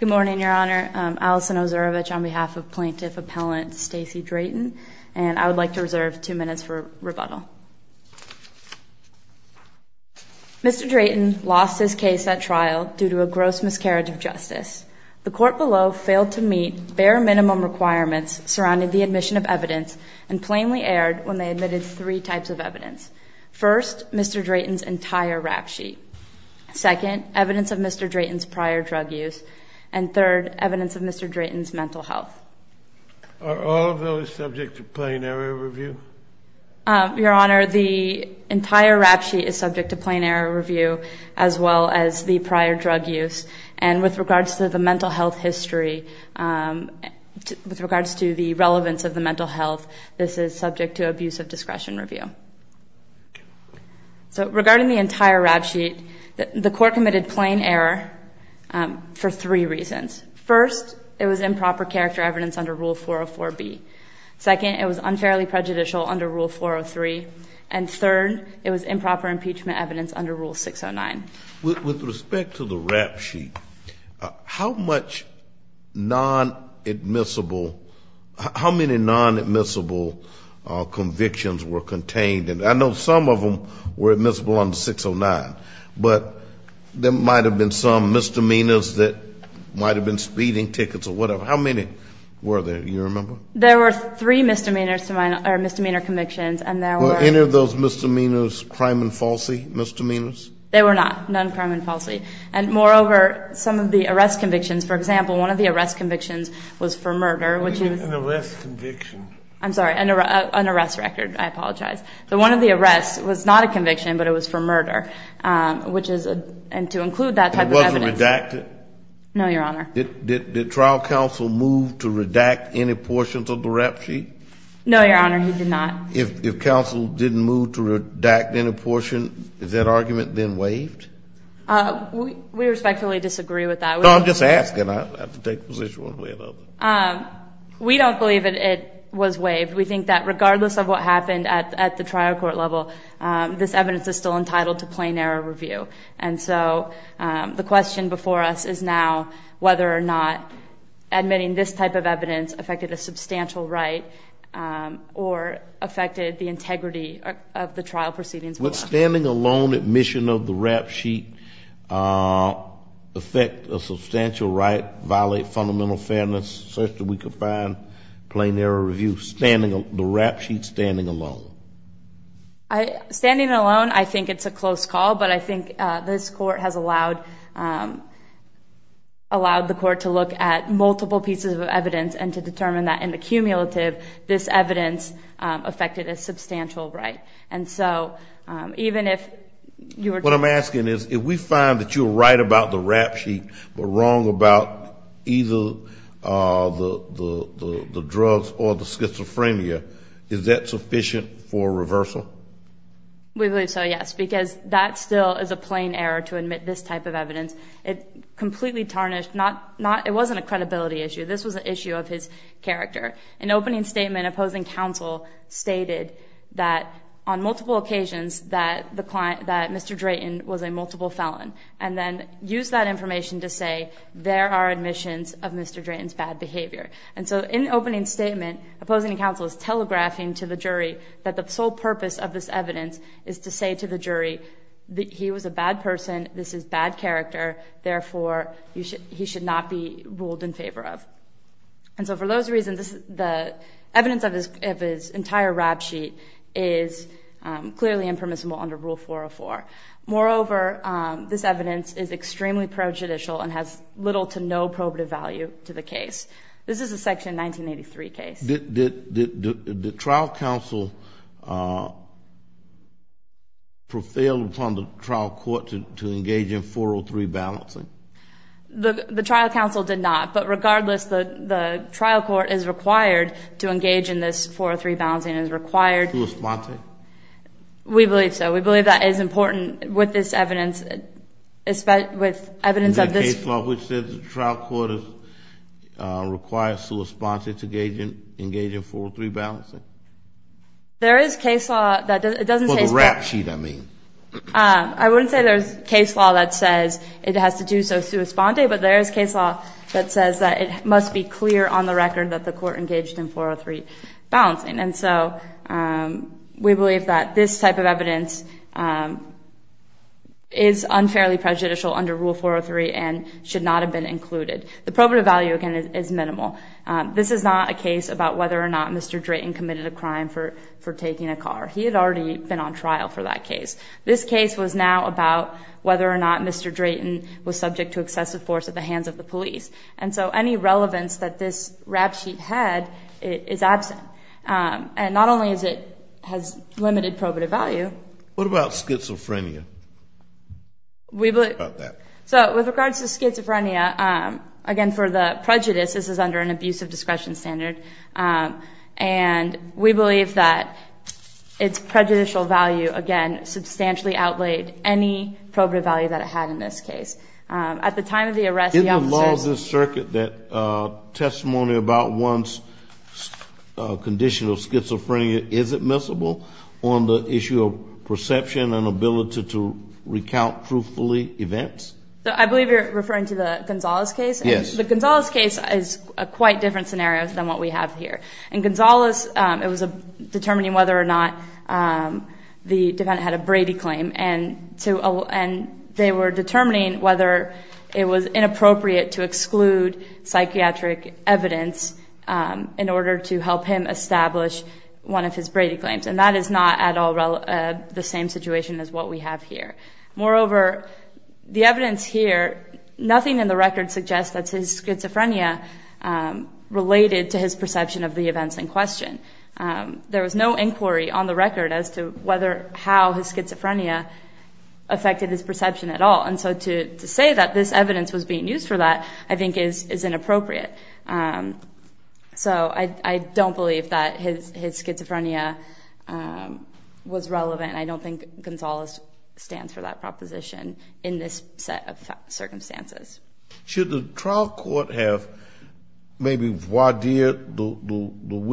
Good morning Your Honor, Alison Ozurovich on behalf of Plaintiff Appellant Stacey Drayton and I would like to reserve two minutes for rebuttal. Mr. Drayton lost his case at trial due to a gross miscarriage of justice. The court below failed to meet bare minimum requirements surrounding the admission of evidence and plainly erred when they admitted three types of evidence. First, Mr. Drayton's entire rap sheet. Second, evidence of Mr. Drayton's prior drug use. And third, evidence of Mr. Drayton's mental health. Are all of those subject to plain error review? Your Honor, the entire rap sheet is subject to plain error review as well as the prior drug use. And with regards to the mental health history, with regards to the relevance of the mental health, this is subject to abusive discretion review. So regarding the entire rap sheet, the court committed plain error for three reasons. First, it was improper character evidence under Rule 404B. Second, it was unfairly prejudicial under Rule 403. And third, it was improper impeachment evidence under Rule 609. With respect to the rap sheet, how much non-admissible, how many non-admissible convictions were contained? And I know some of them were admissible under 609, but there might have been some misdemeanors that might have been speeding tickets or whatever. How many were there? Do you remember? There were three misdemeanor convictions, and there were. Were any of those misdemeanors crime and falsely misdemeanors? They were not, none crime and falsely. And moreover, some of the arrest convictions, for example, one of the arrest convictions was for murder, which was... What do you mean an arrest conviction? I'm sorry, an arrest record. I apologize. The one of the arrests was not a conviction, but it was for murder, which is, and to include that type of evidence... It wasn't redacted? No, Your Honor. Did trial counsel move to redact any portions of the rap sheet? No, Your Honor, he did not. If counsel didn't move to redact any portion, is that argument then waived? We respectfully disagree with that. No, I'm just asking. I don't have to take a position one way or another. We don't believe that it was waived. We think that regardless of what happened at the trial court level, this evidence is still entitled to plain error review. And so the question before us is now whether or not admitting this type of evidence affected a substantial right or affected the integrity of the trial proceedings. Would standing alone admission of the rap sheet affect a substantial right, violate fundamental fairness, such that we could find plain error review, the rap sheet standing alone? Standing alone, I think it's a close call, but I think this court has allowed the court to look at multiple pieces of evidence and to determine that in the cumulative, this evidence affected a substantial right. What I'm asking is if we find that you're right about the rap sheet but wrong about either the drugs or the schizophrenia, is that sufficient for reversal? We believe so, yes, because that still is a plain error to admit this type of evidence. It completely tarnished, it wasn't a credibility issue. This was an issue of his character. In opening statement, opposing counsel stated that on multiple occasions that Mr. Drayton was a multiple felon. And then used that information to say there are admissions of Mr. Drayton's bad behavior. And so in opening statement, opposing counsel is telegraphing to the jury that the sole purpose of this evidence is to say to the jury that he was a bad person, this is bad character, therefore he should not be ruled in favor of. And so for those reasons, the evidence of his entire rap sheet is clearly impermissible under Rule 404. Moreover, this evidence is extremely pro-judicial and has little to no probative value to the case. This is a Section 1983 case. Did the trial counsel prevail upon the trial court to engage in 403 balancing? The trial counsel did not. But regardless, the trial court is required to engage in this 403 balancing, is required. To respond to it? We believe so. We believe that is important with this evidence, with evidence of this. Is there a case law which says the trial court is required to respond to engage in 403 balancing? There is case law that doesn't say. For the rap sheet, I mean. I wouldn't say there's case law that says it has to do so sua sponte, but there is case law that says that it must be clear on the record that the court engaged in 403 balancing. And so we believe that this type of evidence is unfairly prejudicial under Rule 403 and should not have been included. The probative value, again, is minimal. This is not a case about whether or not Mr. Drayton committed a crime for taking a car. He had already been on trial for that case. This case was now about whether or not Mr. Drayton was subject to excessive force at the hands of the police. And so any relevance that this rap sheet had is absent. And not only has it limited probative value. What about schizophrenia? So with regards to schizophrenia, again, for the prejudice, this is under an abusive discretion standard. And we believe that its prejudicial value, again, substantially outlaid any probative value that it had in this case. At the time of the arrest, the officers- Isn't the law of this circuit that testimony about one's condition of schizophrenia isn't missable on the issue of perception and ability to recount truthfully events? I believe you're referring to the Gonzales case? Yes. The Gonzales case is a quite different scenario than what we have here. In Gonzales, it was determining whether or not the defendant had a Brady claim. And they were determining whether it was inappropriate to exclude psychiatric evidence in order to help him establish one of his Brady claims. And that is not at all the same situation as what we have here. Moreover, the evidence here, nothing in the record suggests that his schizophrenia related to his perception of the events in question. There was no inquiry on the record as to how his schizophrenia affected his perception at all. And so to say that this evidence was being used for that, I think is inappropriate. So I don't believe that his schizophrenia was relevant. I don't think Gonzales stands for that proposition in this set of circumstances. Should the trial court have maybe warded the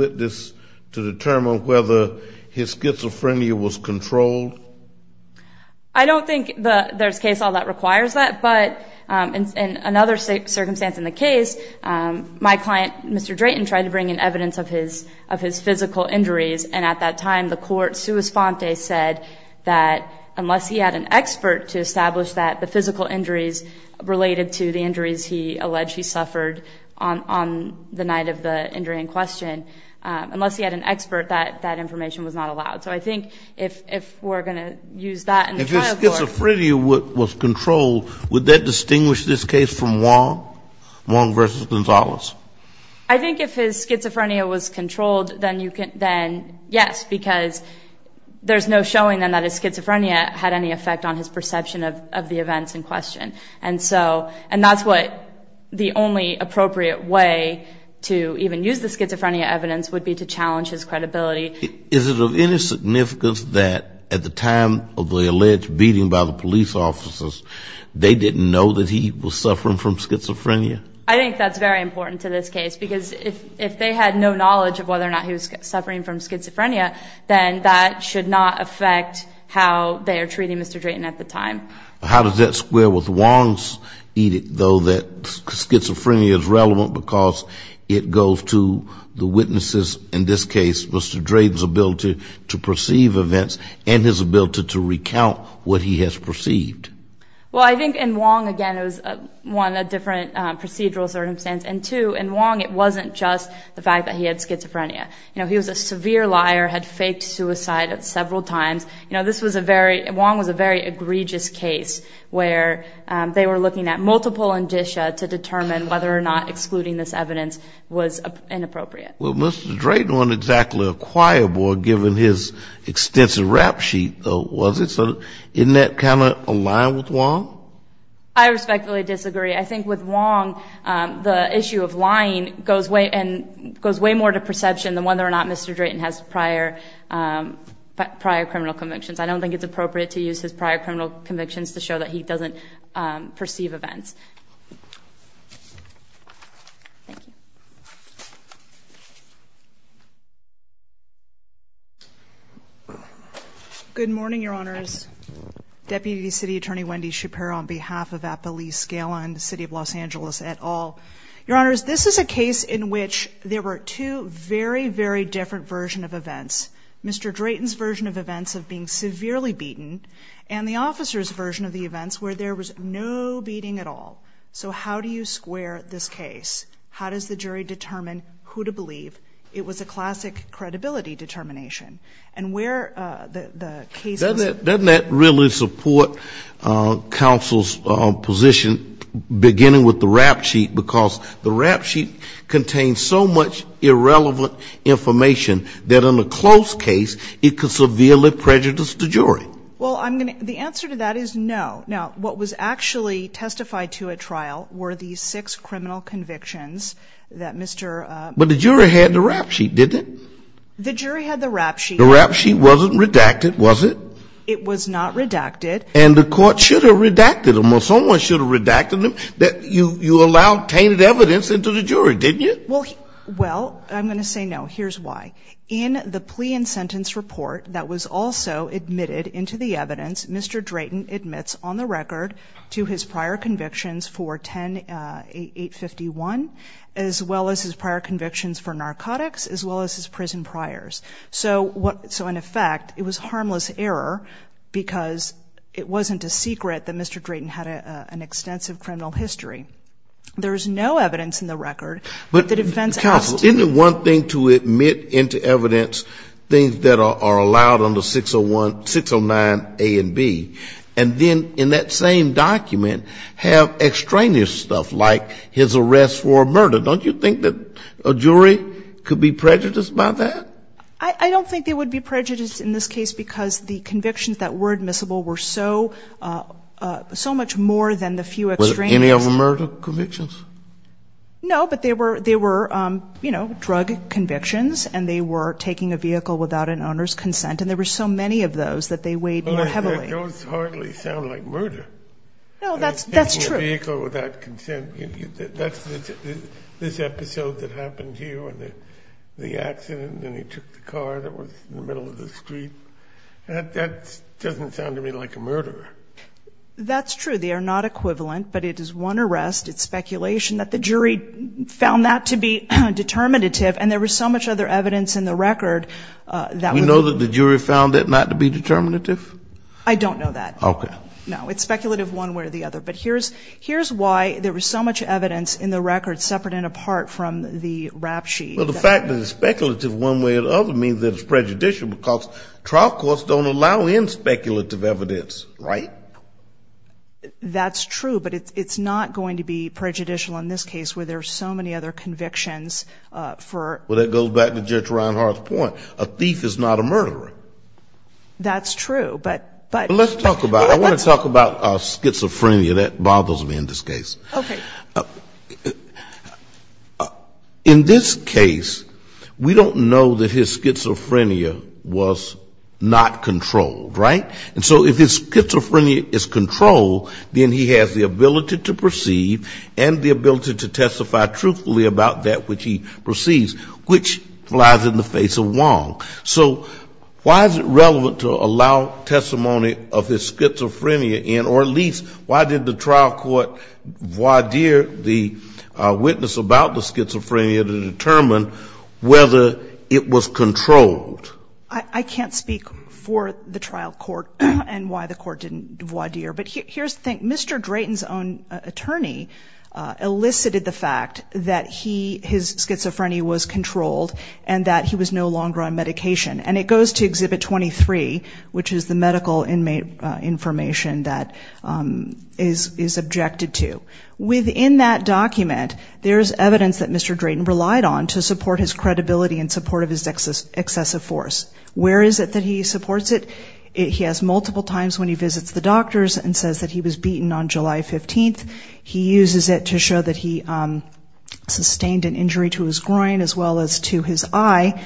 witness to determine whether his schizophrenia was controlled? I don't think there's a case all that requires that. But in another circumstance in the case, my client, Mr. Drayton, tried to bring in evidence of his physical injuries. And at that time, the court sua sponte said that unless he had an expert to establish that the physical injuries related to the injuries he alleged he suffered on the night of the injury in question, unless he had an expert, that information was not allowed. So I think if we're going to use that in the trial court. If his schizophrenia was controlled, would that distinguish this case from Wong versus Gonzales? I think if his schizophrenia was controlled, then yes. Because there's no showing then that his schizophrenia had any effect on his perception of the events in question. And that's what the only appropriate way to even use the schizophrenia evidence would be to challenge his credibility. Is it of any significance that at the time of the alleged beating by the police officers, they didn't know that he was suffering from schizophrenia? I think that's very important to this case. Because if they had no knowledge of whether or not he was suffering from schizophrenia, then that should not affect how they are treating Mr. Drayton at the time. How does that square with Wong's edict, though, that schizophrenia is relevant because it goes to the witnesses, in this case, Mr. Drayton's ability to perceive events and his ability to recount what he has perceived? Well, I think in Wong, again, it was, one, a different procedural circumstance. And, two, in Wong, it wasn't just the fact that he had schizophrenia. You know, he was a severe liar, had faked suicide several times. You know, this was a very — Wong was a very egregious case where they were looking at multiple indicia to determine whether or not excluding this evidence was inappropriate. Well, Mr. Drayton wasn't exactly a choir boy given his extensive rap sheet, though, was it? So isn't that kind of aligned with Wong? I respectfully disagree. I think with Wong, the issue of lying goes way more to perception than whether or not Mr. Drayton has prior criminal convictions. I don't think it's appropriate to use his prior criminal convictions to show that he doesn't perceive events. Thank you. Good morning, Your Honors. Deputy City Attorney Wendy Schapiro on behalf of Appalachia-Scala and the City of Los Angeles et al. Your Honors, this is a case in which there were two very, very different versions of events. Mr. Drayton's version of events of being severely beaten and the officer's version of the events where there was no beating at all. So how do you square this case? How does the jury determine who to believe? It was a classic credibility determination. And where the case is at. Doesn't that really support counsel's position, beginning with the rap sheet, because the rap sheet contains so much irrelevant information that in a closed case it could severely prejudice the jury? Well, the answer to that is no. Now, what was actually testified to at trial were the six criminal convictions that Mr. But the jury had the rap sheet, didn't it? The jury had the rap sheet. The rap sheet wasn't redacted, was it? It was not redacted. And the court should have redacted them, or someone should have redacted them. You allowed tainted evidence into the jury, didn't you? Well, I'm going to say no. Here's why. In the plea and sentence report that was also admitted into the evidence, Mr. Drayton admits on the record to his prior convictions for 10851, as well as his prior convictions for narcotics, as well as his prison priors. So, in effect, it was harmless error because it wasn't a secret that Mr. Drayton had an extensive criminal history. There's no evidence in the record that defense asked. Isn't it one thing to admit into evidence things that are allowed under 609A and B, and then in that same document have extraneous stuff like his arrest for murder? Don't you think that a jury could be prejudiced by that? I don't think they would be prejudiced in this case because the convictions that were admissible were so much more than the few extraneous. Was it any of the murder convictions? No, but they were, you know, drug convictions, and they were taking a vehicle without an owner's consent, and there were so many of those that they weighed more heavily. Those hardly sound like murder. No, that's true. Taking a vehicle without consent. That's this episode that happened here with the accident, and then he took the car that was in the middle of the street. That doesn't sound to me like a murder. That's true. They are not equivalent, but it is one arrest. It's speculation that the jury found that to be determinative, and there was so much other evidence in the record. You know that the jury found that not to be determinative? I don't know that. Okay. No, it's speculative one way or the other. But here's why there was so much evidence in the record separate and apart from the rap sheet. Well, the fact that it's speculative one way or the other means that it's prejudicial because trial courts don't allow in speculative evidence, right? That's true, but it's not going to be prejudicial in this case where there are so many other convictions for. Well, that goes back to Judge Reinhart's point. A thief is not a murderer. That's true, but. Let's talk about it. I want to talk about schizophrenia. That bothers me in this case. Okay. In this case, we don't know that his schizophrenia was not controlled, right? And so if his schizophrenia is controlled, then he has the ability to perceive and the ability to testify truthfully about that which he perceives, which lies in the face of Wong. So why is it relevant to allow testimony of his schizophrenia in, or at least why did the trial court void the witness about the schizophrenia to determine whether it was controlled? I can't speak for the trial court and why the court didn't void, but here's the thing. Mr. Drayton's own attorney elicited the fact that his schizophrenia was controlled and that he was no longer on medication. And it goes to Exhibit 23, which is the medical inmate information that is objected to. Within that document, there's evidence that Mr. Drayton relied on to support his credibility and support of his excessive force. Where is it that he supports it? He has multiple times when he visits the doctors and says that he was beaten on July 15th. He uses it to show that he sustained an injury to his groin as well as to his eye.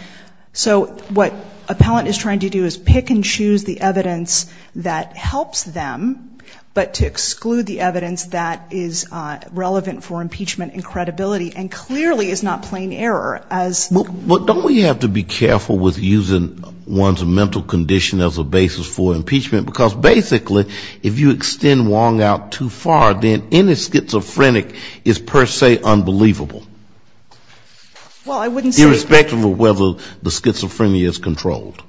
So what appellant is trying to do is pick and choose the evidence that helps them, but to exclude the evidence that is relevant for impeachment and credibility, and clearly is not plain error. But don't we have to be careful with using one's mental condition as a basis for impeachment? Because basically if you extend Wong out too far, then any schizophrenic is per se unbelievable. Irrespective of whether the schizophrenia is controlled.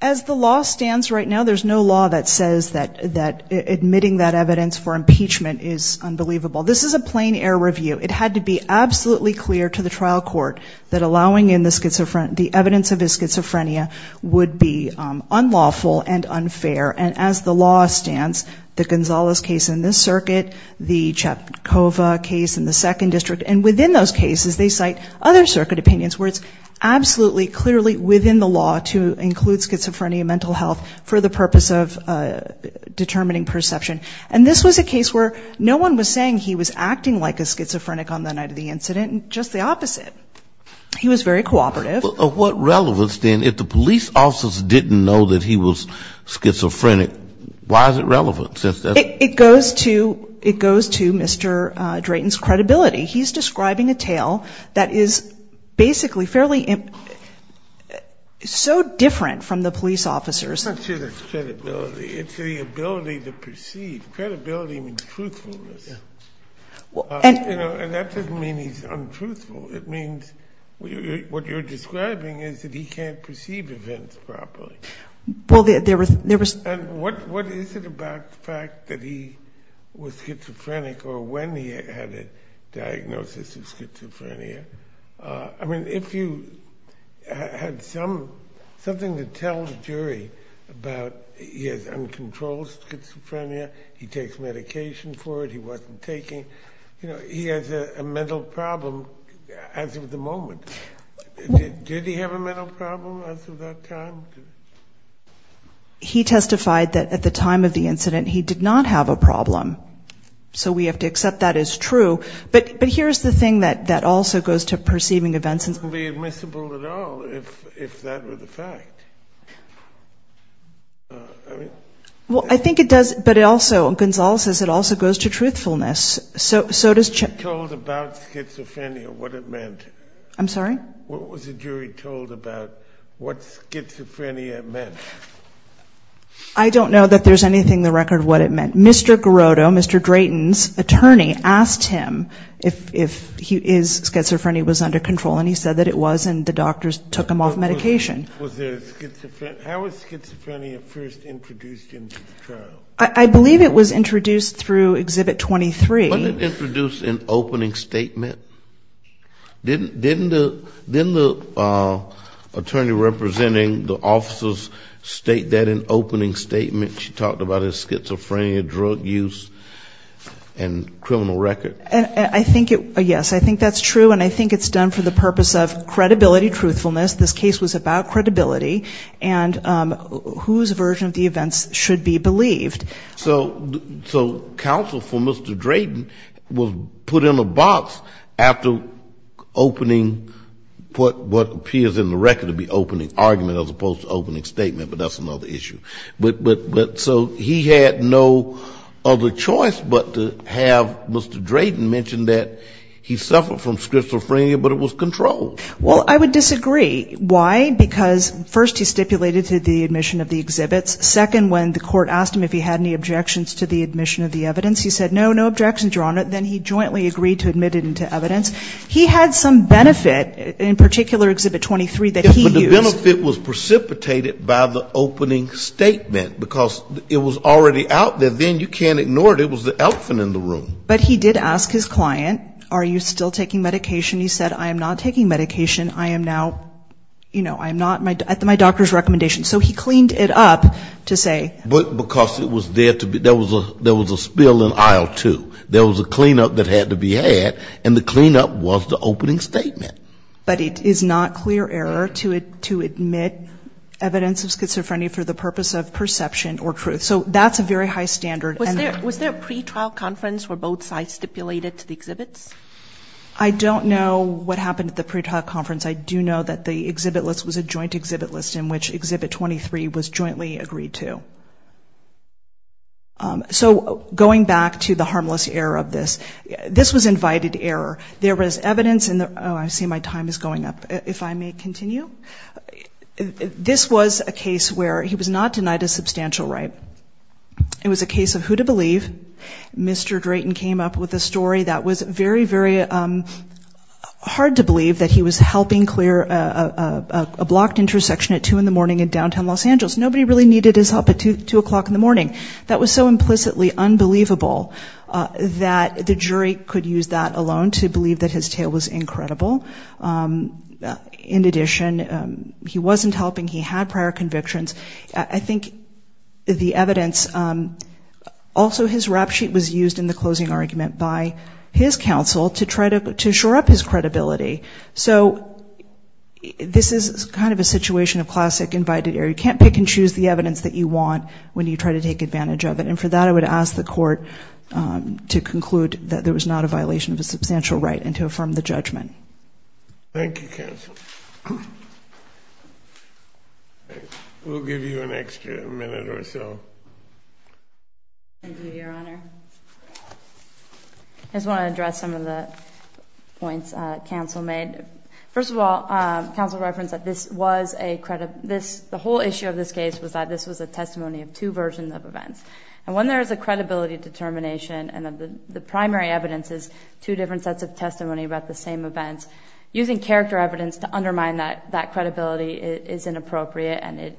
As the law stands right now, there's no law that says that admitting that evidence for impeachment is unbelievable. This is a plain error review. It had to be absolutely clear to the trial court that allowing in the evidence of his schizophrenia would be unlawful and unfair. And as the law stands, the Gonzales case in this circuit, the Chepkova case in the second district, and so on, and within those cases they cite other circuit opinions where it's absolutely clearly within the law to include schizophrenia and mental health for the purpose of determining perception. And this was a case where no one was saying he was acting like a schizophrenic on the night of the incident. Just the opposite. He was very cooperative. But what relevance, then, if the police officers didn't know that he was schizophrenic, why is it relevant? It goes to Mr. Drayton's credibility. He's describing a tale that is basically fairly so different from the police officers' credibility. It's the ability to perceive. His credibility means truthfulness. And that doesn't mean he's untruthful. It means what you're describing is that he can't perceive events properly. And what is it about the fact that he was schizophrenic or when he had a diagnosis of schizophrenia? I mean, if you had something to tell the jury about he has uncontrolled schizophrenia, he takes medication for it, he wasn't taking, you know, he has a mental problem as of the moment. Did he have a mental problem as of that time? He testified that at the time of the incident he did not have a problem. So we have to accept that as true. But here's the thing that also goes to perceiving events. It wouldn't be admissible at all if that were the fact. Well, I think it does, but it also, Gonzalo says it also goes to truthfulness. What was the jury told about what schizophrenia meant? I don't know that there's anything in the record what it meant. Mr. Garoto, Mr. Drayton's attorney, asked him if he is, schizophrenia was under control. And he said that it was and the doctors took him off medication. How was schizophrenia first introduced into the trial? I believe it was introduced through Exhibit 23. Wasn't it introduced in opening statement? Didn't the attorney representing the officers state that in opening statement? She talked about his schizophrenia, drug use and criminal record. I think it, yes, I think that's true and I think it's done for the purpose of credibility, truthfulness. This case was about credibility and whose version of the events should be believed. So counsel for Mr. Drayton was put in a box after opening what appears in the record to be opening argument as opposed to opening statement, but that's another issue. So he had no other choice but to have Mr. Drayton mention that he suffered from schizophrenia, but it was controlled. Well, I would disagree. Why, because first he stipulated to the admission of the exhibits. Second, when the court asked him if he had any objections to the admission of the evidence, he said no, no objections, Your Honor. Then he jointly agreed to admit it into evidence. He had some benefit, in particular Exhibit 23 that he used. But the benefit was precipitated by the opening statement because it was already out there. And then you can't ignore it. It was the elephant in the room. But he did ask his client, are you still taking medication? He said I am not taking medication. I am now, you know, I'm not at my doctor's recommendation. So he cleaned it up to say. But because it was there to be, there was a spill in aisle two, there was a cleanup that had to be had, and the cleanup was the opening statement. But it is not clear error to admit evidence of schizophrenia for the purpose of perception or truth. So that's a very high standard. Was there a pretrial conference where both sides stipulated to the exhibits? I don't know what happened at the pretrial conference. I do know that the exhibit list was a joint exhibit list in which Exhibit 23 was jointly agreed to. So going back to the harmless error of this, this was invited error. There was evidence in the, oh, I see my time is going up. If I may continue. This was a case where he was not denied a substantial right. It was a case of who to believe. Mr. Drayton came up with a story that was very, very hard to believe that he was helping clear a blocked intersection at 2 in the morning in downtown Los Angeles. Nobody really needed his help at 2 o'clock in the morning. That was so implicitly unbelievable that the jury could use that alone to believe that his tale was incredible. In addition, he wasn't helping, he had prior convictions. I think the evidence, also his rap sheet was used in the closing argument by his counsel to try to shore up his credibility. So this is kind of a situation of classic invited error. You can't pick and choose the evidence that you want when you try to take advantage of it. And for that, I would ask the court to conclude that there was not a violation of a substantial right and to affirm the judgment. Thank you, counsel. We'll give you an extra minute or so. I just want to address some of the points counsel made. First of all, counsel referenced that this was a credit. The whole issue of this case was that this was a testimony of two versions of events. And when there is a credibility determination and the primary evidence is two different sets of testimony about the same events, using character evidence to undermine that credibility is inappropriate. And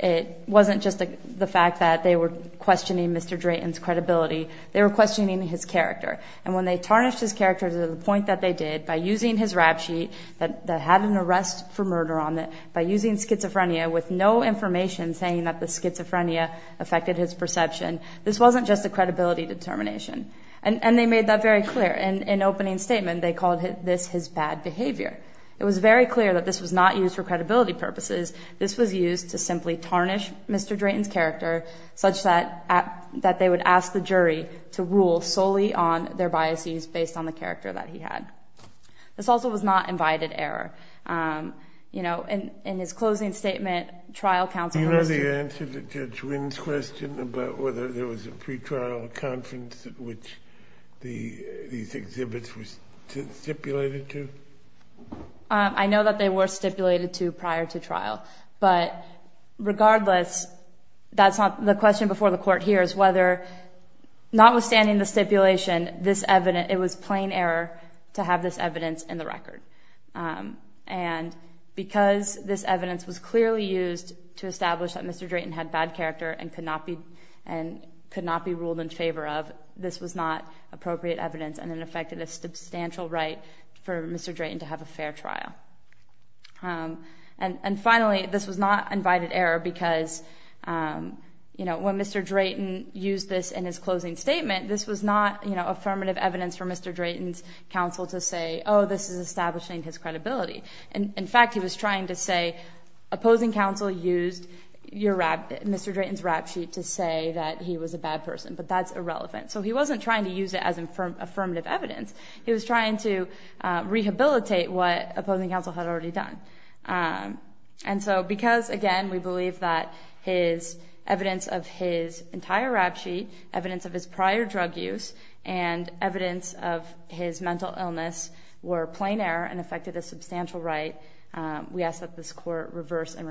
it wasn't just the fact that they were questioning Mr. Drayton's credibility, they were questioning his character. And when they tarnished his character to the point that they did by using his rap sheet that had an arrest for murder on it, by using schizophrenia with no information saying that the schizophrenia affected his perception, this wasn't just a credibility determination. And they made that very clear. In an opening statement, they called this his bad behavior. It was very clear that this was not used for credibility purposes. This was used to simply tarnish Mr. Drayton's character such that they would ask the jury to rule solely on their biases based on the character that he had. This also was not invited error. In his closing statement, trial counsel... Do you know the answer to Judge Wynn's question about whether there was a pretrial conference at which these exhibits were stipulated to? I know that they were stipulated to prior to trial. But regardless, the question before the court here is whether, notwithstanding the stipulation, it was plain error to have this evidence in the record. And because this evidence was clearly used to establish that Mr. Drayton had bad character and could not be ruled in favor of, this was not appropriate evidence and it affected a substantial right for Mr. Drayton to have a fair trial. And finally, this was not invited error because when Mr. Drayton used this in his closing statement, this was not affirmative evidence for Mr. Drayton's counsel to say, oh, this is establishing his credibility. In fact, he was trying to say opposing counsel used Mr. Drayton's rap sheet to say that he was a bad person, but that's irrelevant. So he wasn't trying to use it as affirmative evidence. He was trying to rehabilitate what opposing counsel had already done. And so because, again, we believe that his evidence of his entire rap sheet, evidence of his prior drug use, and evidence of his mental illness were plain error and affected a substantial right, we ask that this court reverse and remand.